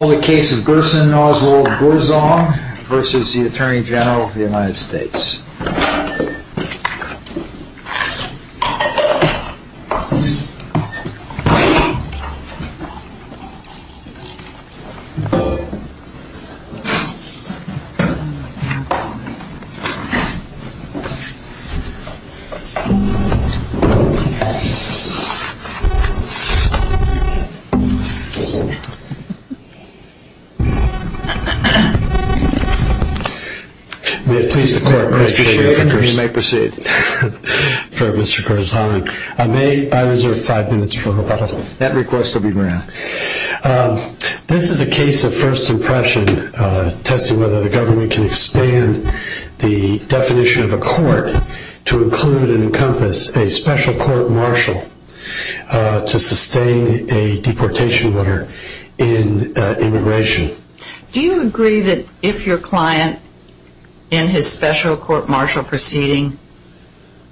This is the case of Gerson Oswald Gourzong v. Attorney General of the United States. This is a case of first impression, testing whether the government can expand the definition of a court to include and encompass a special court marshal to sustain a deportation order in the United States. Do you agree that if your client in his special court marshal proceeding,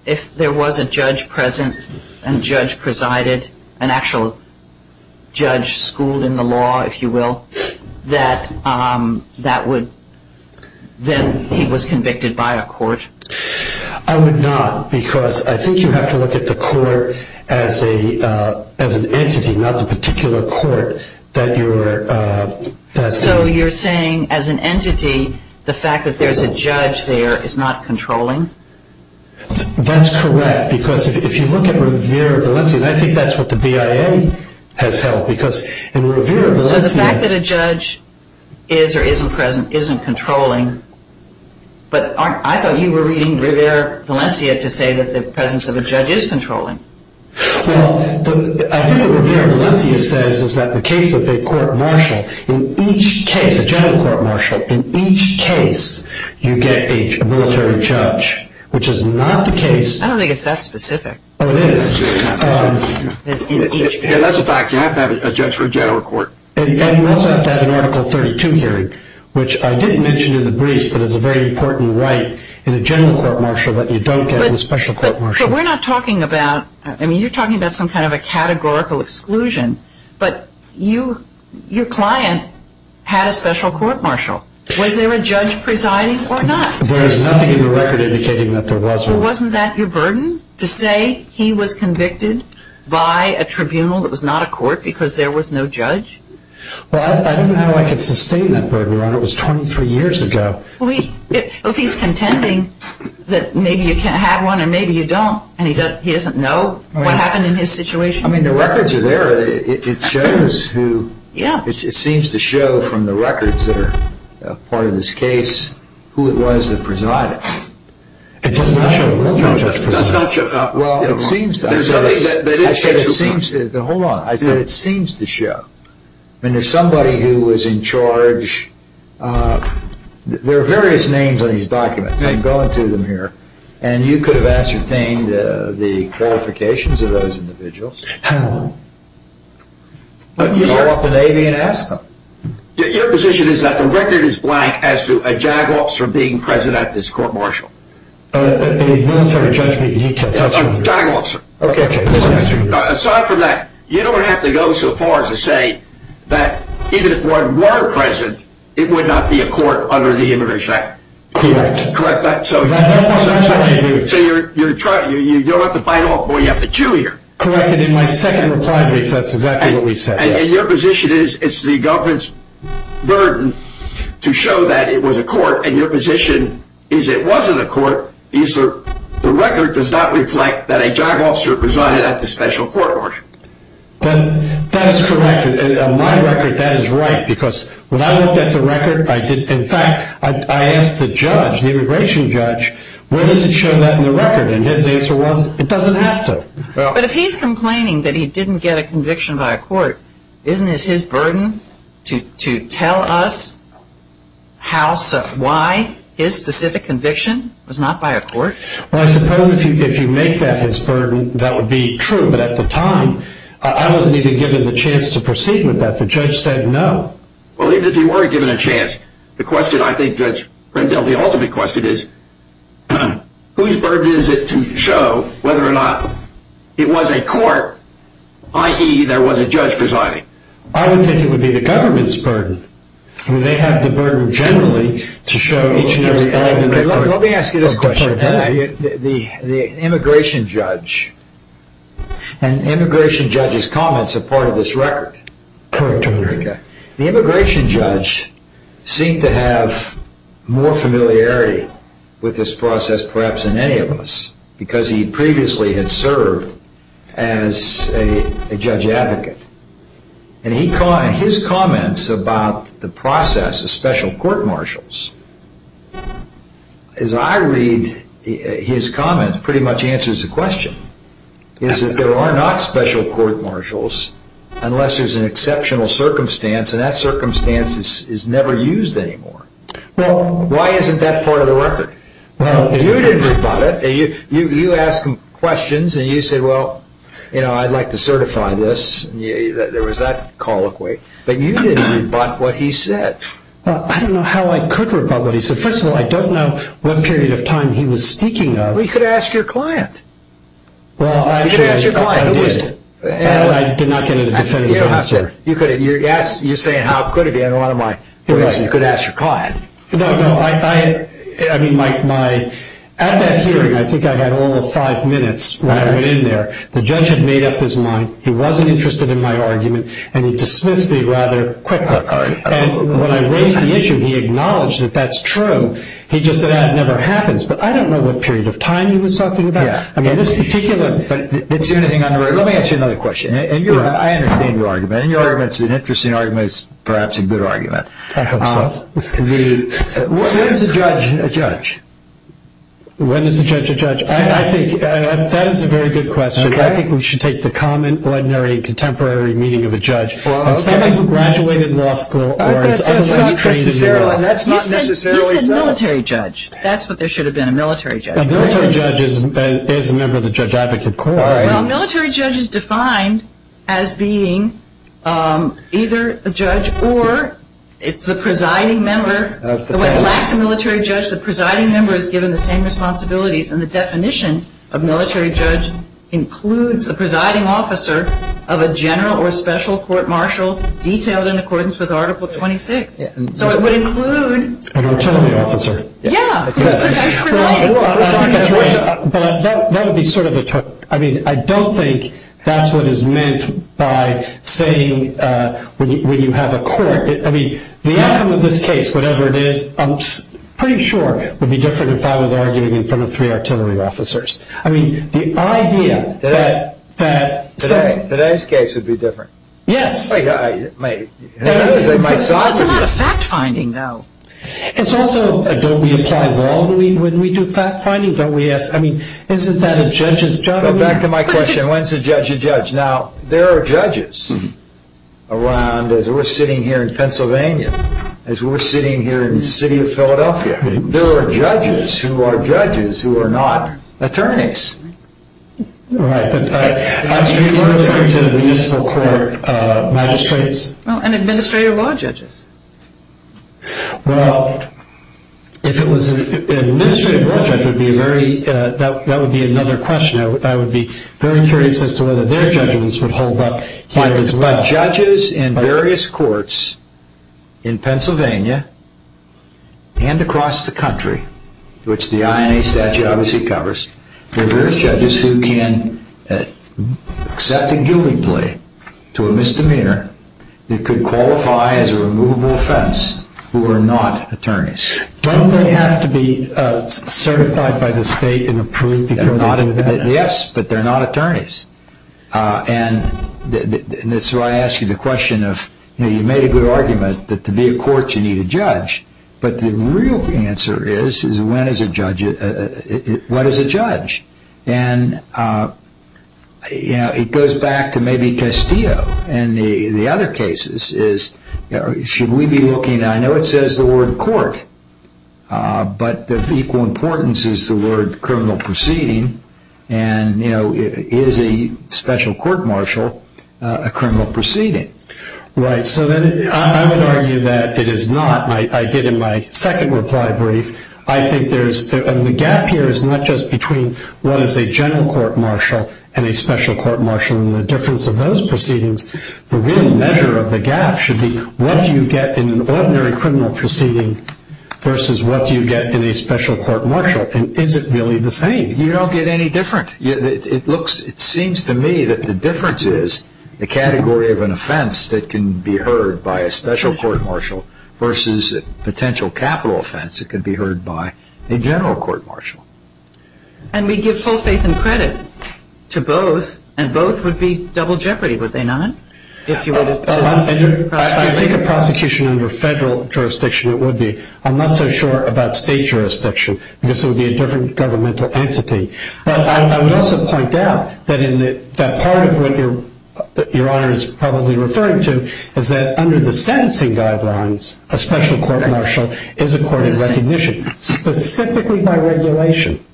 if there was a judge present and judge presided, an actual judge schooled in the law if you will, that he was convicted by a court? I would not because I think you have to look at the court as an entity, not the particular court that you are... So you're saying as an entity, the fact that there's a judge there is not controlling? That's correct because if you look at Rivera Valencia, I think that's what the BIA has held because in Rivera Valencia... But I thought you were reading Rivera Valencia to say that the presence of a judge is controlling? Well, I think what Rivera Valencia says is that the case of a court marshal, in each case, a general court marshal, in each case you get a military judge, which is not the case... I don't think it's that specific. Oh, it is. That's a fact. You have to have a judge for a general court. And you also have to have an article 32 hearing, which I didn't mention in the briefs, but is a very important right in a general court marshal that you don't get in a special court marshal. But we're not talking about, I mean you're talking about some kind of a categorical exclusion, but your client had a special court marshal. Was there a judge presiding or not? There is nothing in the record indicating that there was one. So wasn't that your burden to say he was convicted by a tribunal that was not a court because there was no judge? Well, I don't know how I could sustain that burden, Your Honor. It was 23 years ago. Well, if he's contending that maybe you had one and maybe you don't, and he doesn't know what happened in his situation... I mean, the records are there. It shows who... Yeah. It seems to show from the records that are part of this case who it was that presided. It doesn't show who it was, Your Honor. Well, it seems to. There's nothing that it shows you. Hold on. I said it seems to show. I mean, there's somebody who was in charge. There are various names on these documents. I'm going through them here. And you could have ascertained the qualifications of those individuals. How? Call up the Navy and ask them. Your position is that the record is blank as to a JAG officer being present at this court-martial? A military judge meeting. A JAG officer. Okay, okay. Aside from that, you don't have to go so far as to say that even if one were present, it would not be a court under the Immigration Act. Correct. So you don't have to bite off more. You have to chew here. Correct. And in my second reply brief, that's exactly what we said. And your position is it's the government's burden to show that it was a court. And your position is it wasn't a court. The record does not reflect that a JAG officer presided at the special court-martial. That is correct. In my record, that is right because when I looked at the record, in fact, I asked the judge, the immigration judge, where does it show that in the record? And his answer was it doesn't have to. But if he's complaining that he didn't get a conviction by a court, isn't this his burden to tell us why his specific conviction was not by a court? Well, I suppose if you make that his burden, that would be true, but at the time, I wasn't even given the chance to proceed with that. The judge said no. Well, even if he weren't given a chance, the ultimate question is whose burden is it to show whether or not it was a court, i.e. there was a judge presiding? I would think it would be the government's burden. They have the burden generally to show each and every element of the record. Let me ask you this question. The immigration judge and immigration judge's comments are part of this record. Correct. The immigration judge seemed to have more familiarity with this process perhaps than any of us because he previously had served as a judge advocate. And his comments about the process of special court-martials, as I read his comments, pretty much answers the question. There are not special court-martials unless there's an exceptional circumstance, and that circumstance is never used anymore. Well, why isn't that part of the record? You didn't rebut it. You asked him questions and you said, well, I'd like to certify this. There was that colloquy. But you didn't rebut what he said. I don't know how I could rebut what he said. First of all, I don't know what period of time he was speaking of. Well, you could ask your client. You could ask your client. I did not get a definitive answer. You're saying how could it be. You could ask your client. At that hearing, I think I had all five minutes when I went in there. The judge had made up his mind. He wasn't interested in my argument, and he dismissed me rather quickly. And when I raised the issue, he acknowledged that that's true. He just said that never happens. But I don't know what period of time he was talking about. Let me ask you another question. I understand your argument, and your argument is an interesting argument. It's perhaps a good argument. I hope so. When is a judge a judge? When is a judge a judge? That is a very good question. I think we should take the common, ordinary, contemporary meaning of a judge. Someone who graduated law school or is otherwise trained in the world. That's not necessarily so. You said military judge. That's what there should have been, a military judge. A military judge is a member of the Judge Advocate Corps. Well, a military judge is defined as being either a judge or it's a presiding member. When it lacks a military judge, the presiding member is given the same responsibilities. And the definition of military judge includes the presiding officer of a general or special court martial detailed in accordance with Article 26. So it would include... An attorney officer. Yeah. Well, that would be sort of a... I mean, I don't think that's what is meant by saying when you have a court... I mean, the outcome of this case, whatever it is, I'm pretty sure would be different if I was arguing in front of three artillery officers. I mean, the idea that... Today's case would be different. Yes. They might side with you. That's a lot of fact-finding, though. It's also... Don't we apply law when we do fact-finding? Don't we ask... I mean, isn't that a judge's job? Go back to my question. When is a judge a judge? Now, there are judges around. As we're sitting here in Pennsylvania, as we're sitting here in the city of Philadelphia, there are judges who are judges who are not attorneys. Right. But as you were referring to the municipal court magistrates... Well, and administrative law judges. Well, if it was an administrative law judge, that would be another question. I would be very curious as to whether their judgments would hold up here as well. But judges in various courts in Pennsylvania and across the country, which the INA statute obviously covers, there are various judges who can accept a guilty plea to a misdemeanor that could qualify as a removable offense who are not attorneys. Don't they have to be certified by the state and approved before they do that? Yes, but they're not attorneys. And that's why I asked you the question of... You made a good argument that to be a court you need a judge, but the real answer is when is a judge... What is a judge? And it goes back to maybe Castillo and the other cases. Should we be looking... I know it says the word court, but of equal importance is the word criminal proceeding, and is a special court martial a criminal proceeding? Right. So I would argue that it is not. I did in my second reply brief. The gap here is not just between what is a general court martial and a special court martial and the difference of those proceedings. The real measure of the gap should be what you get in an ordinary criminal proceeding versus what you get in a special court martial, and is it really the same? You don't get any different. It seems to me that the difference is the category of an offense that can be heard by a special court martial versus a potential capital offense that can be heard by a general court martial. And we give full faith and credit to both, and both would be double jeopardy, would they not? I think a prosecution under federal jurisdiction it would be. I'm not so sure about state jurisdiction because it would be a different governmental entity. But I would also point out that part of what Your Honor is probably referring to is that under the sentencing guidelines a special court martial is a court of recognition, specifically by regulation,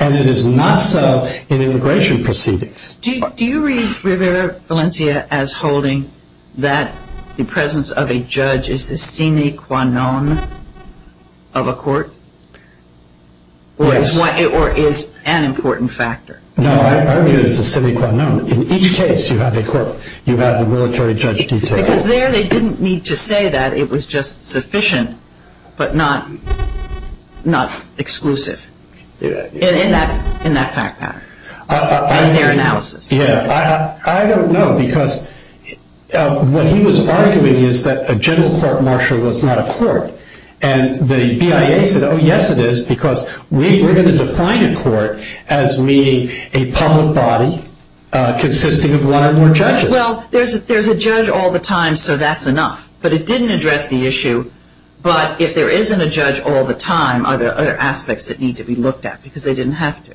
and it is not so in immigration proceedings. Do you read, Valencia, as holding that the presence of a judge is the sine qua non of a court? Or is an important factor? No, I argue it is the sine qua non. In each case you have the military judge detail. Because there they didn't need to say that. It was just sufficient but not exclusive in that fact pattern, in their analysis. I don't know because what he was arguing is that a general court martial was not a court, and the BIA said, oh, yes it is, because we're going to define a court as meaning a public body consisting of one or more judges. Well, there's a judge all the time, so that's enough. But it didn't address the issue. But if there isn't a judge all the time, are there other aspects that need to be looked at? Because they didn't have to.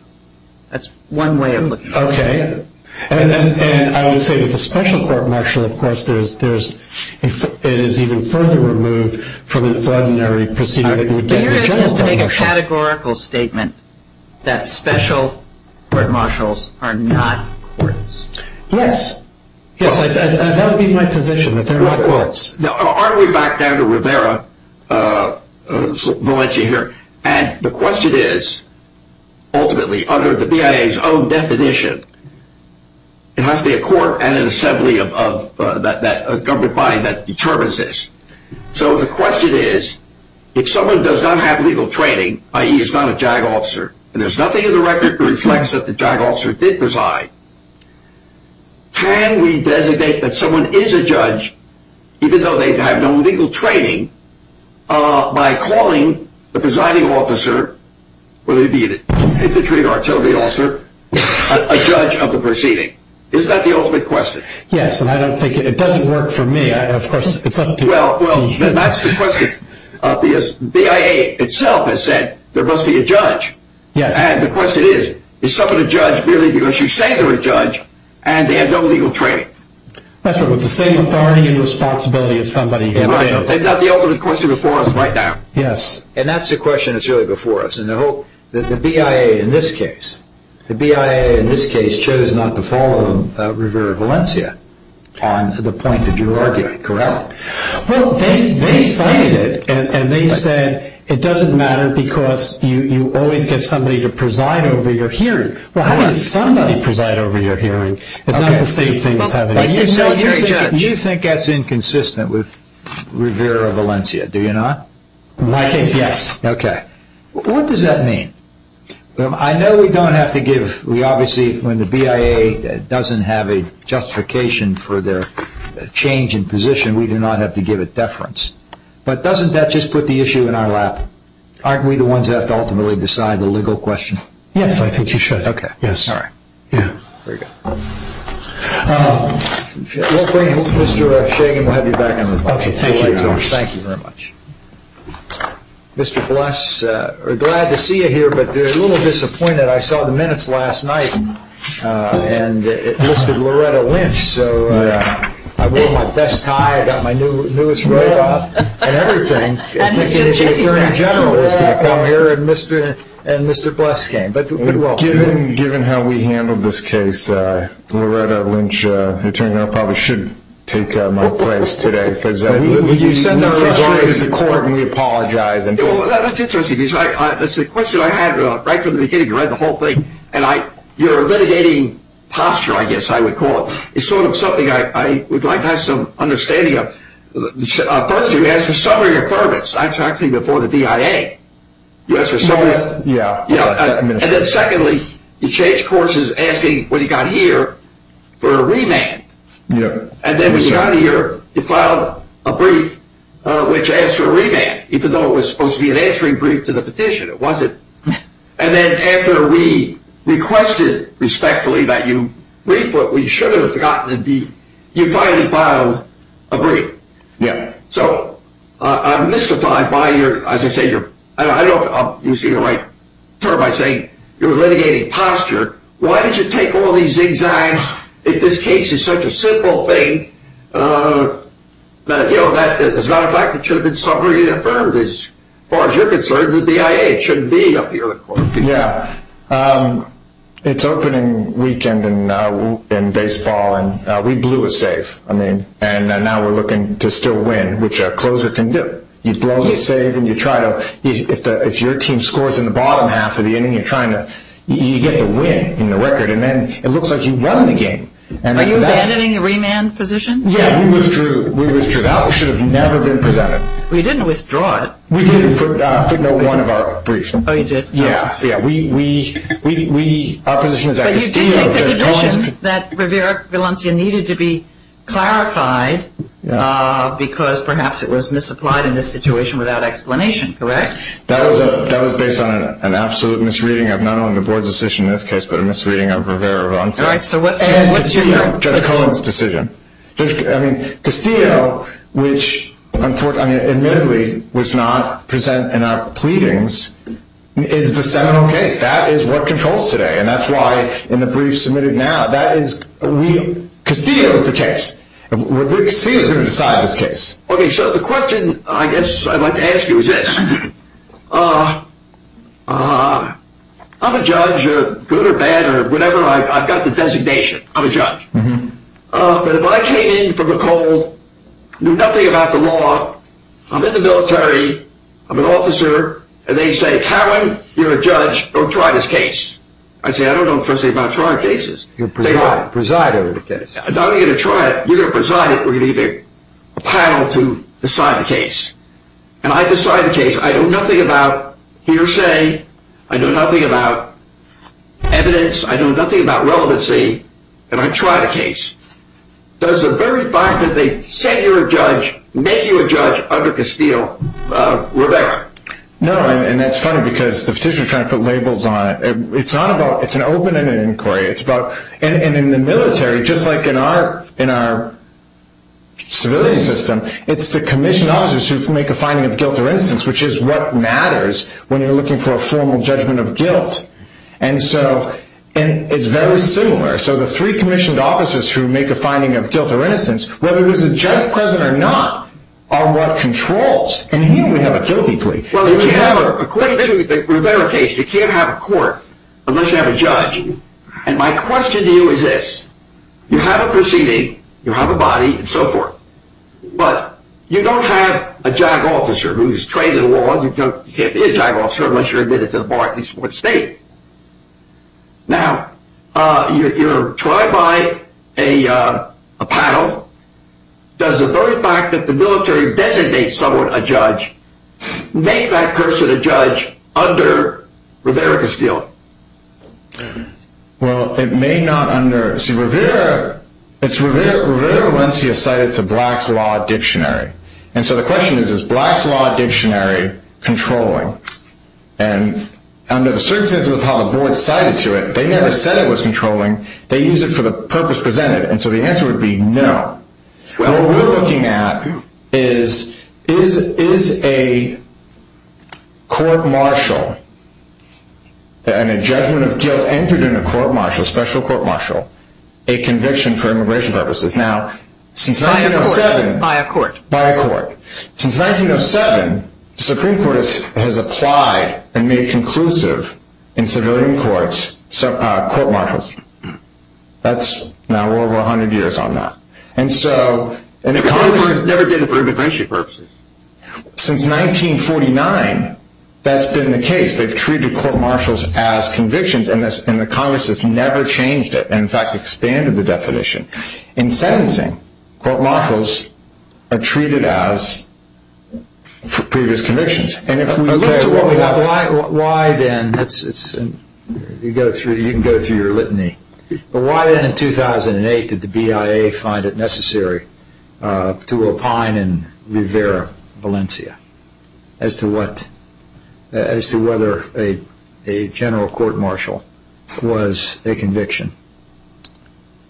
That's one way of looking at it. Okay. And I would say that the special court martial, of course, it is even further removed from an ordinary procedure that would get a general court martial. I'm curious as to make a categorical statement that special court martials are not courts. Yes. Yes, that would be my position, that they're not courts. Now, are we back down to Rivera, Valencia here? And the question is, ultimately, under the BIA's own definition, it has to be a court and an assembly of a government body that determines this. So the question is, if someone does not have legal training, i.e., is not a JAG officer, and there's nothing in the record that reflects that the JAG officer did preside, can we designate that someone is a judge, even though they have no legal training, by calling the presiding officer, whether it be an infantry or artillery officer, a judge of the proceeding? Is that the ultimate question? Yes, and I don't think it does work for me. Well, that's the question. BIA itself has said there must be a judge. Yes. And the question is, is someone a judge merely because you say they're a judge and they have no legal training? That's right. With the same authority and responsibility of somebody else. Right. And that's the ultimate question before us right now. Yes. And that's the question that's really before us. The BIA in this case chose not to follow Rivera Valencia on the point that you're arguing. Correct? Well, they cited it, and they said it doesn't matter because you always get somebody to preside over your hearing. Well, how can somebody preside over your hearing? It's not the same thing as having a military judge. You think that's inconsistent with Rivera Valencia, do you not? In my case, yes. Okay. What does that mean? I know we don't have to give – we obviously – when the BIA doesn't have a justification for their change in position, we do not have to give it deference. But doesn't that just put the issue in our lap? Aren't we the ones that have to ultimately decide the legal question? Yes, I think you should. Okay. Yes. All right. Yeah. There you go. We'll bring Mr. Shagan. We'll have you back on the phone. Okay. Thank you very much. Mr. Bless, we're glad to see you here, but a little disappointed. I saw the minutes last night, and it listed Loretta Lynch. So I wore my best tie. I got my newest robe on and everything. I think the attorney general is going to come here, and Mr. Bless came. Given how we handled this case, Loretta Lynch, attorney general, probably shouldn't take my place today. You send our regards to court, and we apologize. That's interesting. That's a question I had right from the beginning. You read the whole thing, and your litigating posture, I guess I would call it, is sort of something I would like to have some understanding of. First, you asked for summary affirmance. I'm talking before the DIA. You asked for summary. Yeah. And then secondly, you changed courses asking, when you got here, for a remand. And then when you got here, you filed a brief which asked for a remand, even though it was supposed to be an answering brief to the petition. It wasn't. And then after we requested respectfully that you brief what we should have gotten, you finally filed a brief. Yeah. So I'm mystified by your, as I say, I don't know if you see the right term, by saying you're litigating posture. Why did you take all these exams if this case is such a simple thing that, you know, there's not a fact it should have been summary affirmed as far as you're concerned, the DIA shouldn't be up here. Yeah. It's opening weekend in baseball, and we blew a save. I mean, and now we're looking to still win, which a closer can do. You blow the save, and you try to, if your team scores in the bottom half of the inning, you get the win in the record, and then it looks like you run the game. Are you abandoning the remand position? Yeah, we withdrew that. It should have never been presented. Well, you didn't withdraw it. We didn't, for no one of our briefs. Oh, you did. Yeah. Our position is at Castillo. But you did take the position that Rivera-Valencia needed to be clarified because perhaps it was misapplied in this situation without explanation, correct? That was based on an absolute misreading of not only the board's decision in this case, but a misreading of Rivera-Valencia. And Castillo, Jenna Cohen's decision. I mean, Castillo, which admittedly was not present in our pleadings, is the seminal case. That is what controls today, and that's why in the brief submitted now, that is real. Castillo is the case. Castillo is going to decide this case. Okay, so the question I guess I'd like to ask you is this. I'm a judge, good or bad or whatever. I've got the designation. I'm a judge. But if I came in from a cold, knew nothing about the law, I'm in the military, I'm an officer, and they say, Cowan, you're a judge, go try this case. I say, I don't know the first thing about trying cases. Preside over the case. Not only are you going to try it, you're going to preside over it. We're going to need a panel to decide the case. And I decide the case. I know nothing about hearsay. I know nothing about evidence. I know nothing about relevancy. And I try the case. Does the very fact that they send you a judge make you a judge under Castillo Rivera? No, and that's funny because the petitioner is trying to put labels on it. It's not about an open-ended inquiry. And in the military, just like in our civilian system, it's the commissioned officers who make a finding of guilt or innocence, which is what matters when you're looking for a formal judgment of guilt. And so it's very similar. So the three commissioned officers who make a finding of guilt or innocence, whether there's a judge present or not, are what controls. And here we have a guilty plea. Well, according to the Rivera case, you can't have a court unless you have a judge. And my question to you is this. You have a proceeding. You have a body and so forth. But you don't have a JAG officer who's trained in law. You can't be a JAG officer unless you're admitted to the bar at least once a day. Now, you're tried by a panel. Does the very fact that the military designates someone a judge make that person a judge under Rivera-Castillo? Well, it may not under – see, Rivera – it's Rivera-Lencia cited to Black's Law Dictionary. And so the question is, is Black's Law Dictionary controlling? And under the circumstances of how the board cited to it, they never said it was controlling. They used it for the purpose presented. And so the answer would be no. What we're looking at is, is a court-martial and a judgment of guilt entered in a court-martial, special court-martial, a conviction for immigration purposes? Now, since 1907 – By a court. By a court. Since 1907, the Supreme Court has applied and made conclusive in civilian courts court-martials. That's now over 100 years on that. And so – But Congress never did it for immigration purposes. Since 1949, that's been the case. They've treated court-martials as convictions, and the Congress has never changed it, and in fact, expanded the definition. In sentencing, court-martials are treated as previous convictions. And if we look to what we have – You can go through your litany. But why then in 2008 did the BIA find it necessary to opine in Rivera, Valencia, as to whether a general court-martial was a conviction?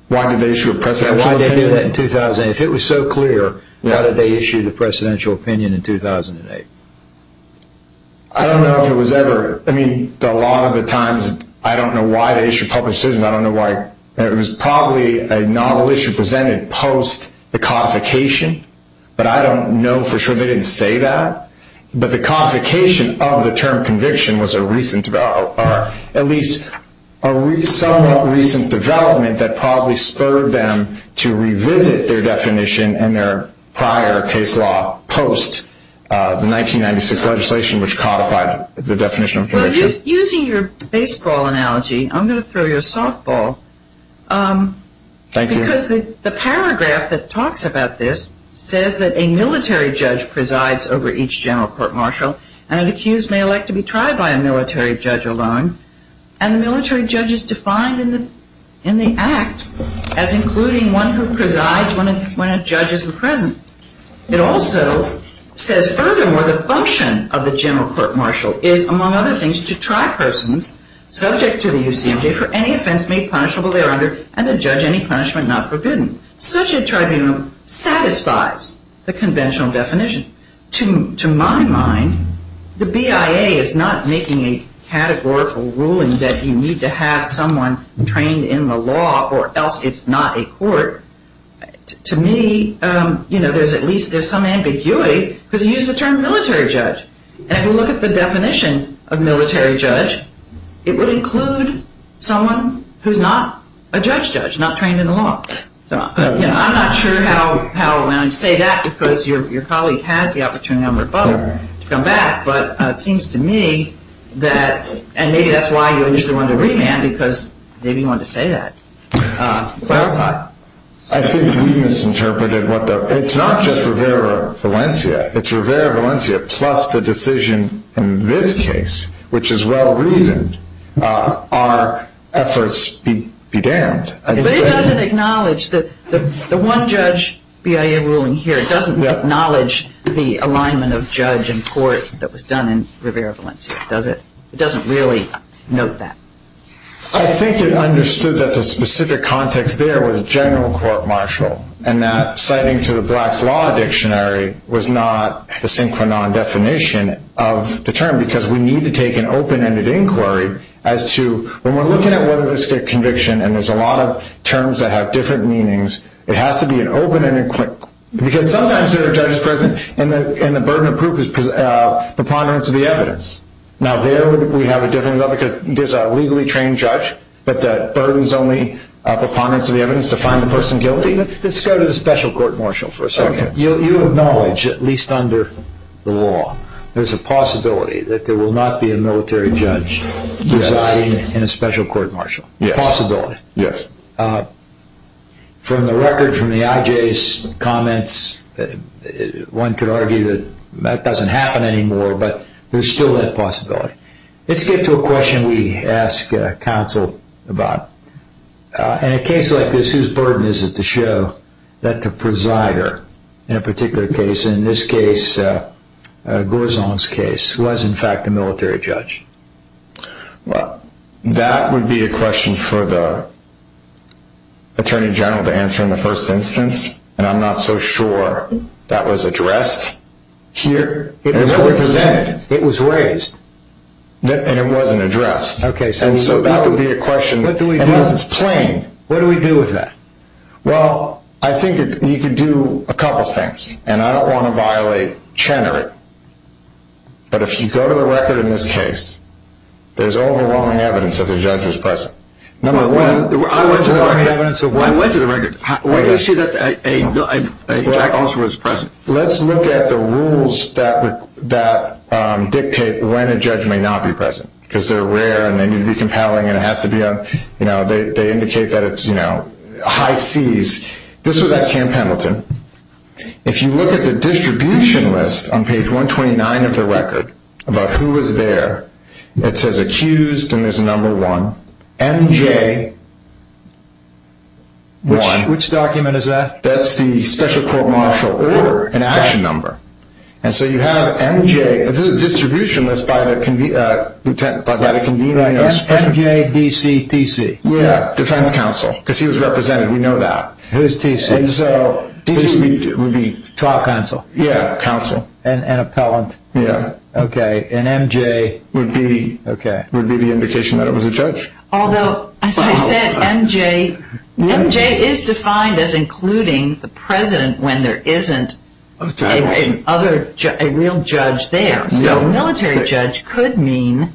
Why did they issue a presidential opinion? Why did they do that in 2008? If it was so clear, why did they issue the presidential opinion in 2008? I don't know if it was ever – I mean, a lot of the times, I don't know why they issued public decisions. I don't know why – It was probably a novel issue presented post the codification, but I don't know for sure they didn't say that. But the codification of the term conviction was a recent – or at least a somewhat recent development that probably spurred them to revisit their definition and their prior case law post the 1996 legislation, which codified the definition of conviction. Using your baseball analogy, I'm going to throw you a softball. Thank you. Because the paragraph that talks about this says that a military judge presides over each general court-martial and an accused may elect to be tried by a military judge alone. And the military judge is defined in the act as including one who presides when a judge is present. It also says, furthermore, the function of the general court-martial is, among other things, to try persons subject to the UCMJ for any offense made punishable thereunder and to judge any punishment not forbidden. Such a tribunal satisfies the conventional definition. To my mind, the BIA is not making a categorical ruling that you need to have someone trained in the law or else it's not a court. To me, there's at least some ambiguity because you use the term military judge. And if you look at the definition of military judge, it would include someone who's not a judge-judge, not trained in the law. I'm not sure how – and I say that because your colleague has the opportunity, I'm her brother, to come back. But it seems to me that – and maybe that's why you initially wanted to remand because maybe you wanted to say that. Clarify. I think we misinterpreted what the – it's not just Rivera-Valencia. It's Rivera-Valencia plus the decision in this case, which is well-reasoned, are efforts be damned. But it doesn't acknowledge that the one judge BIA ruling here doesn't acknowledge the alignment of judge and court that was done in Rivera-Valencia, does it? It doesn't really note that. I think it understood that the specific context there was general court-martial and that citing to the Black's Law Dictionary was not a synchronized definition of the term because we need to take an open-ended inquiry as to – when we're looking at whether this is a conviction and there's a lot of terms that have different meanings, it has to be an open-ended – Because sometimes there are judges present and the burden of proof is preponderance of the evidence. Now there we have a different – because there's a legally trained judge but the burden is only preponderance of the evidence to find the person guilty. Let's go to the special court-martial for a second. You acknowledge, at least under the law, there's a possibility that there will not be a military judge residing in a special court-martial. A possibility. Yes. From the record, from the IJ's comments, one could argue that that doesn't happen anymore but there's still that possibility. Let's get to a question we asked counsel about. In a case like this, whose burden is it to show that the presider in a particular case, in this case, Gorzon's case, was in fact a military judge? Well, that would be a question for the attorney general to answer in the first instance and I'm not so sure that was addressed here. It was presented. It was raised. And it wasn't addressed. Okay. And so that would be a question. What do we do? And this is plain. What do we do with that? Well, I think you could do a couple of things and I don't want to violate Chenner. But if you go to the record in this case, there's overwhelming evidence that the judge was present. I went to the record. Why do you say that a judge was present? Let's look at the rules that dictate when a judge may not be present because they're rare and they need to be compelling and they indicate that it's high seas. This was at Camp Hamilton. If you look at the distribution list on page 129 of the record about who was there, it says accused and there's a number one, MJ1. Which document is that? That's the special court martial order, an action number. And so you have MJ. This is a distribution list by the convener. MJ, DC, TC. Yeah, defense counsel because he was represented. We know that. Who's TC? DC would be top counsel. Yeah, counsel. And appellant. Yeah. Okay. And MJ would be the indication that it was a judge. Although, as I said, MJ is defined as including the president when there isn't a real judge there. So military judge could mean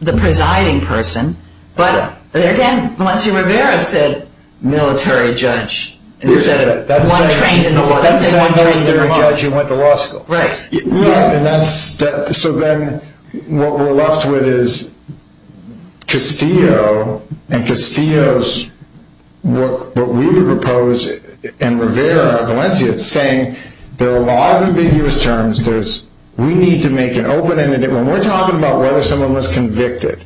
the presiding person. But, again, Valencia Rivera said military judge instead of one trained in the law. That's the same military judge who went to law school. Right. So then what we're left with is Castillo and Castillo's what we would propose, and Rivera of Valencia is saying there are a lot of ambiguous terms. We need to make it open. When we're talking about whether someone was convicted,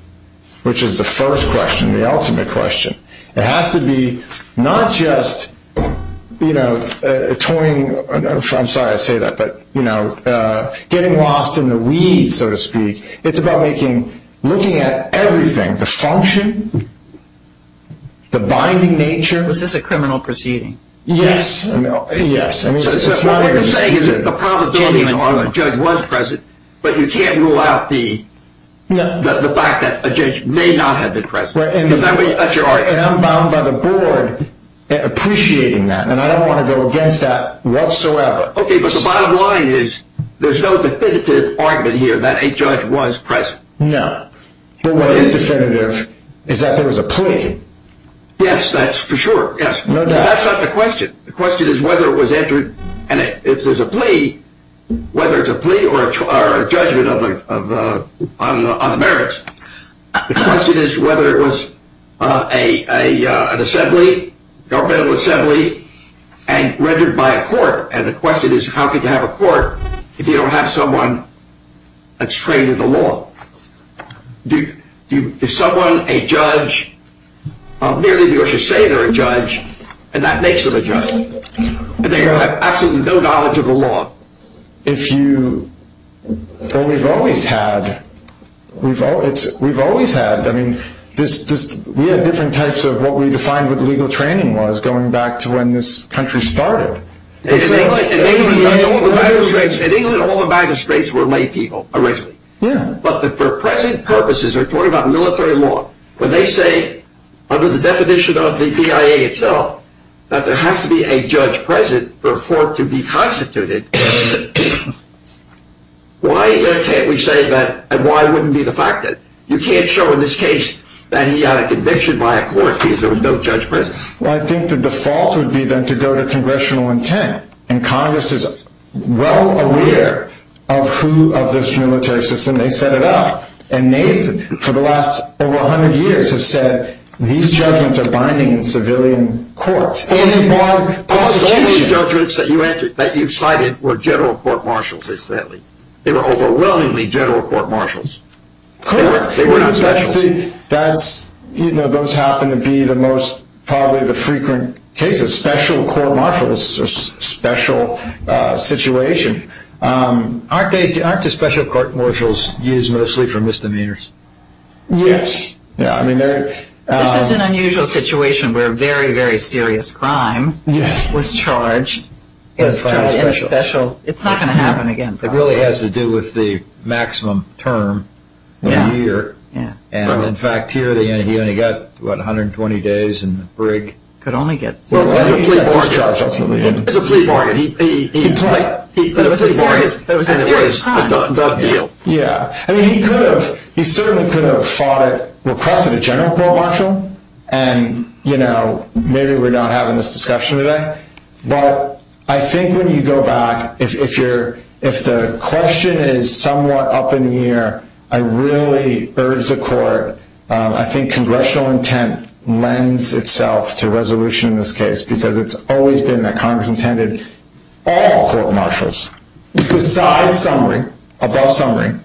which is the first question, the ultimate question, it has to be not just getting lost in the weeds, so to speak. It's about looking at everything, the function, the binding nature. Was this a criminal proceeding? Yes. What you're saying is that the probability of a judge was present, but you can't rule out the fact that a judge may not have been present. Is that your argument? And I'm bound by the board appreciating that, and I don't want to go against that whatsoever. Okay, but the bottom line is there's no definitive argument here that a judge was present. No. But what is definitive is that there was a plea. Yes, that's for sure. No doubt. But that's not the question. The question is whether it was entered, and if there's a plea, whether it's a plea or a judgment on the merits, the question is whether it was an assembly, governmental assembly, and rendered by a court, and the question is how can you have a court if you don't have someone that's trained in the law? Is someone a judge merely because you say they're a judge and that makes them a judge, and they have absolutely no knowledge of the law? Well, we've always had. We've always had. I mean, we had different types of what we defined what legal training was going back to when this country started. In England, all the magistrates were lay people originally. Yeah. But for present purposes, we're talking about military law. When they say under the definition of the PIA itself that there has to be a judge present for a court to be constituted, why can't we say that and why wouldn't be the fact that? You can't show in this case that he had a conviction by a court because there was no judge present. Well, I think the default would be then to go to congressional intent, and Congress is well aware of this military system. They set it up. And they, for the last over 100 years, have said these judgments are binding in civilian courts. Any more constitution. All of these judgments that you cited were general court marshals, they said. They were overwhelmingly general court marshals. Of course. They were not special. You know, those happen to be probably the most frequent cases. The special court marshals are a special situation. Aren't the special court marshals used mostly for misdemeanors? Yes. This is an unusual situation where a very, very serious crime was charged in a special. It's not going to happen again. It really has to do with the maximum term of a year. In fact, here he only got 120 days in the brig. He could only get 60 days in the brig. Well, I think he got discharged ultimately. It was a plea bargain. It was a serious crime. Yeah. I mean, he certainly could have requested a general court marshal, and, you know, maybe we're not having this discussion today. But I think when you go back, if the question is somewhat up in the air, I really urge the court. I think congressional intent lends itself to resolution in this case because it's always been that Congress intended all court marshals, besides summary, above summary,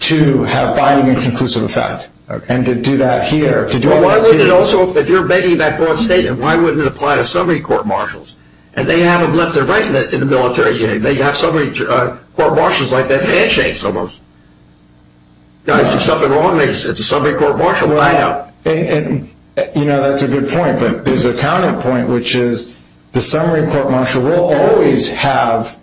to have binding and conclusive effect and to do that here. Well, why wouldn't it also, if you're making that broad statement, why wouldn't it apply to summary court marshals? And they haven't left their rank in the military. They have summary court marshals like that, handshakes almost. Guys, there's something wrong. It's a summary court marshal. I know. And, you know, that's a good point. But there's a counterpoint, which is the summary court marshal will always have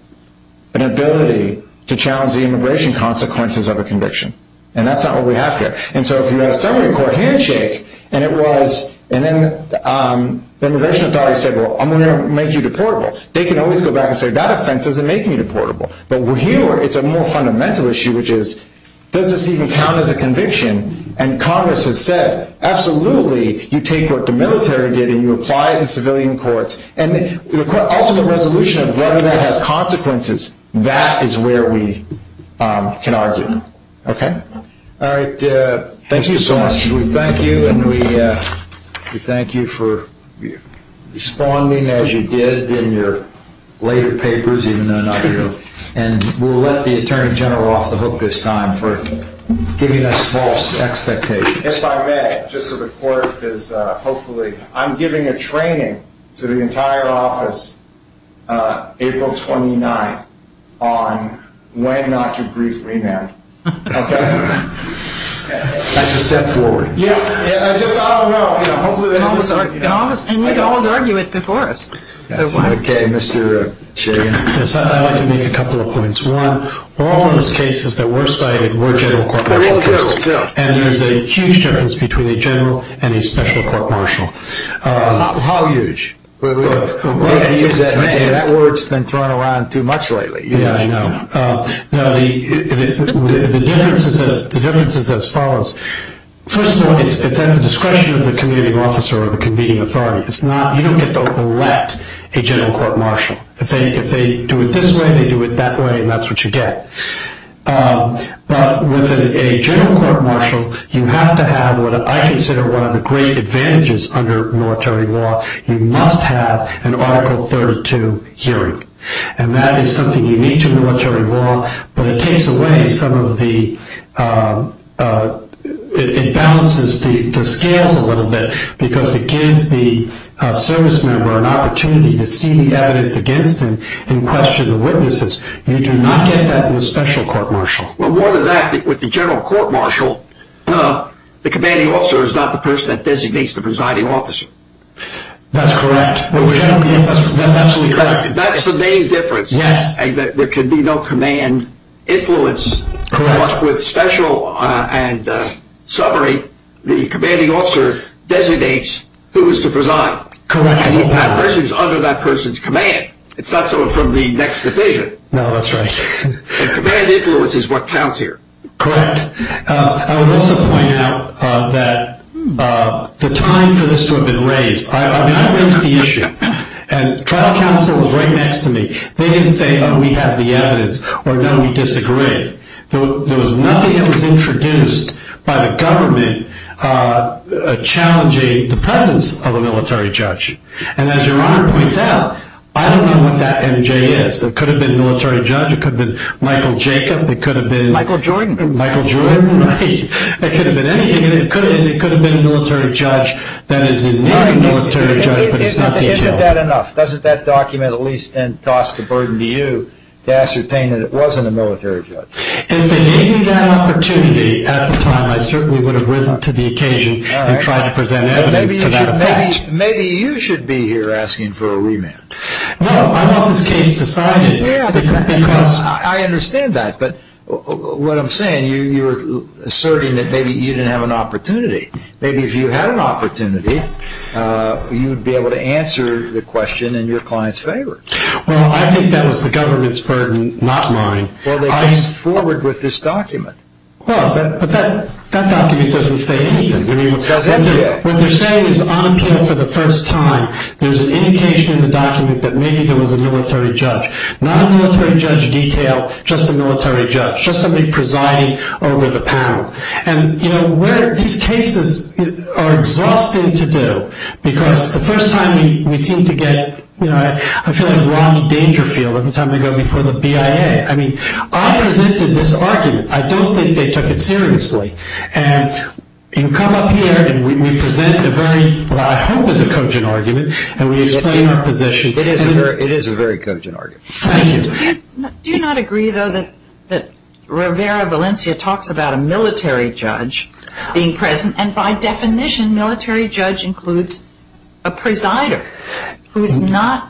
an ability to challenge the immigration consequences of a conviction. And that's not what we have here. And so if you have a summary court handshake, and it was, and then the immigration authority said, well, I'm going to make you deportable, they can always go back and say, that offense doesn't make me deportable. But here it's a more fundamental issue, which is, does this even count as a conviction? And Congress has said, absolutely, you take what the military did and you apply it in civilian courts. And the ultimate resolution of whether that has consequences, that is where we can argue. Okay? All right. Thank you so much. We thank you. And we thank you for responding as you did in your later papers, even though not here. And we'll let the Attorney General off the hook this time for giving us false expectations. If I may, just so the court is hopefully, I'm giving a training to the entire office April 29th on when not to brief remand. Okay? That's a step forward. Yeah. I just, I don't know. And you can always argue it before us. Okay. Mr. Chairman. I'd like to make a couple of points. One, all those cases that were cited were general court martial cases. And there's a huge difference between a general and a special court martial. How huge? That word's been thrown around too much lately. Yeah, I know. The difference is as follows. First of all, it's at the discretion of the committee officer or the convening authority. You don't get to elect a general court martial. If they do it this way, they do it that way, and that's what you get. But with a general court martial, you have to have what I consider one of the great advantages under military law. You must have an Article 32 hearing. And that is something unique to military law. But it takes away some of the ñ it balances the scales a little bit because it gives the service member an opportunity to see the evidence against them and question the witnesses. You do not get that in a special court martial. Well, more than that, with the general court martial, the commanding officer is not the person that designates the presiding officer. That's correct. That's absolutely correct. That's the main difference. Yes. There can be no command influence. Correct. But with special and summary, the commanding officer designates who is to preside. Correct. And that person is under that person's command. It's not someone from the next division. No, that's right. And command influence is what counts here. Correct. I would also point out that the time for this to have been raised ñ I raised the issue, and trial counsel was right next to me. They didn't say, oh, we have the evidence, or no, we disagree. There was nothing that was introduced by the government challenging the presence of a military judge. And as Your Honor points out, I don't know what that MJ is. It could have been military judge. It could have been Michael Jacob. It could have been ñ Michael Jordan. Michael Jordan, right. It could have been anything. It could have been a military judge. That is, it may be a military judge, but it's not detailed. Isn't that enough? Doesn't that document at least then toss the burden to you to ascertain that it wasn't a military judge? If they gave me that opportunity at the time, I certainly would have risen to the occasion and tried to present evidence to that effect. Maybe you should be here asking for a remand. No, I want this case decided because ñ I understand that. But what I'm saying, you're asserting that maybe you didn't have an opportunity. Maybe if you had an opportunity, you'd be able to answer the question in your client's favor. Well, I think that was the government's burden, not mine. Well, they came forward with this document. Well, but that document doesn't say anything. What they're saying is on appeal for the first time, there's an indication in the document that maybe there was a military judge. Not a military judge detail, just a military judge, just somebody presiding over the panel. And, you know, these cases are exhausting to do because the first time we seem to get ñ I feel like Ron Dangerfield every time we go before the BIA. I mean, I presented this argument. I don't think they took it seriously. And you come up here and we present a very ñ what I hope is a cogent argument, and we explain our position. It is a very cogent argument. Thank you. Do you not agree, though, that Rivera Valencia talks about a military judge being present? And by definition, military judge includes a presider who is not ñ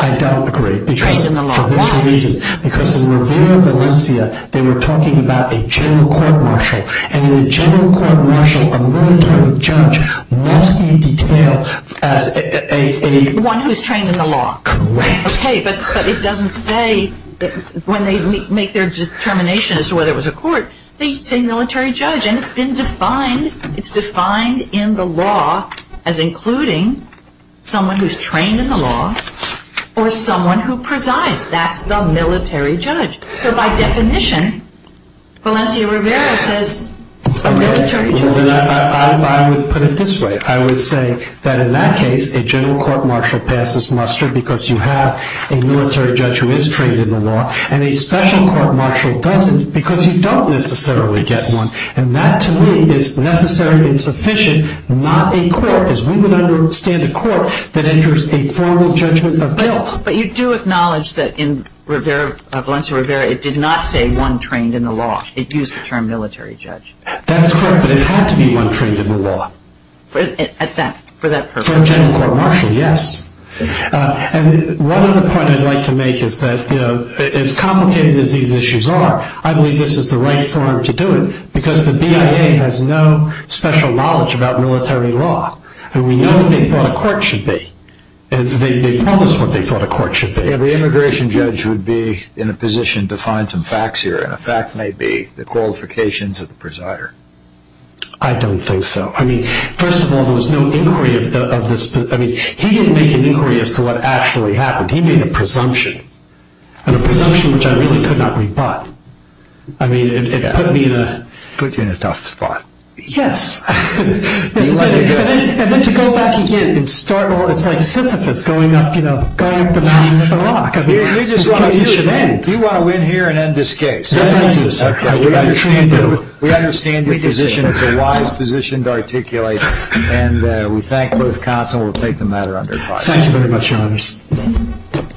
I don't agree. ñ trained in the law. Why? Because in Rivera Valencia, they were talking about a general court martial. And in a general court martial, a military judge must be detailed as a ñ the one who is trained in the law. Correct. Okay, but it doesn't say ñ when they make their determination as to whether it was a court, they say military judge. And it's been defined ñ it's defined in the law as including someone who is trained in the law or someone who presides. That's the military judge. So by definition, Valencia Rivera says military judge. I would put it this way. I would say that in that case, a general court martial passes muster because you have a military judge who is trained in the law, and a special court martial doesn't because you don't necessarily get one. And that, to me, is necessary and sufficient, not a court, as we would understand a court that enters a formal judgment of guilt. But you do acknowledge that in Valencia Rivera, it did not say one trained in the law. It used the term military judge. That is correct, but it had to be one trained in the law. For that purpose. For a general court martial, yes. One other point I'd like to make is that as complicated as these issues are, I believe this is the right forum to do it because the BIA has no special knowledge about military law, and we know what they thought a court should be. They promised what they thought a court should be. Every immigration judge would be in a position to find some facts here, and a fact may be the qualifications of the presider. I don't think so. I mean, first of all, there was no inquiry of this. I mean, he didn't make an inquiry as to what actually happened. He made a presumption, and a presumption which I really could not rebut. I mean, it put me in a... It put you in a tough spot. Yes. And then to go back again and start all, it's like Sisyphus going up, you know, going up the mountain of the rock. You just want to see it end. You want to win here and end this case. We understand your position. It's a wise position to articulate, and we thank both cots and we'll take the matter under caution. Thank you very much, Your Honors.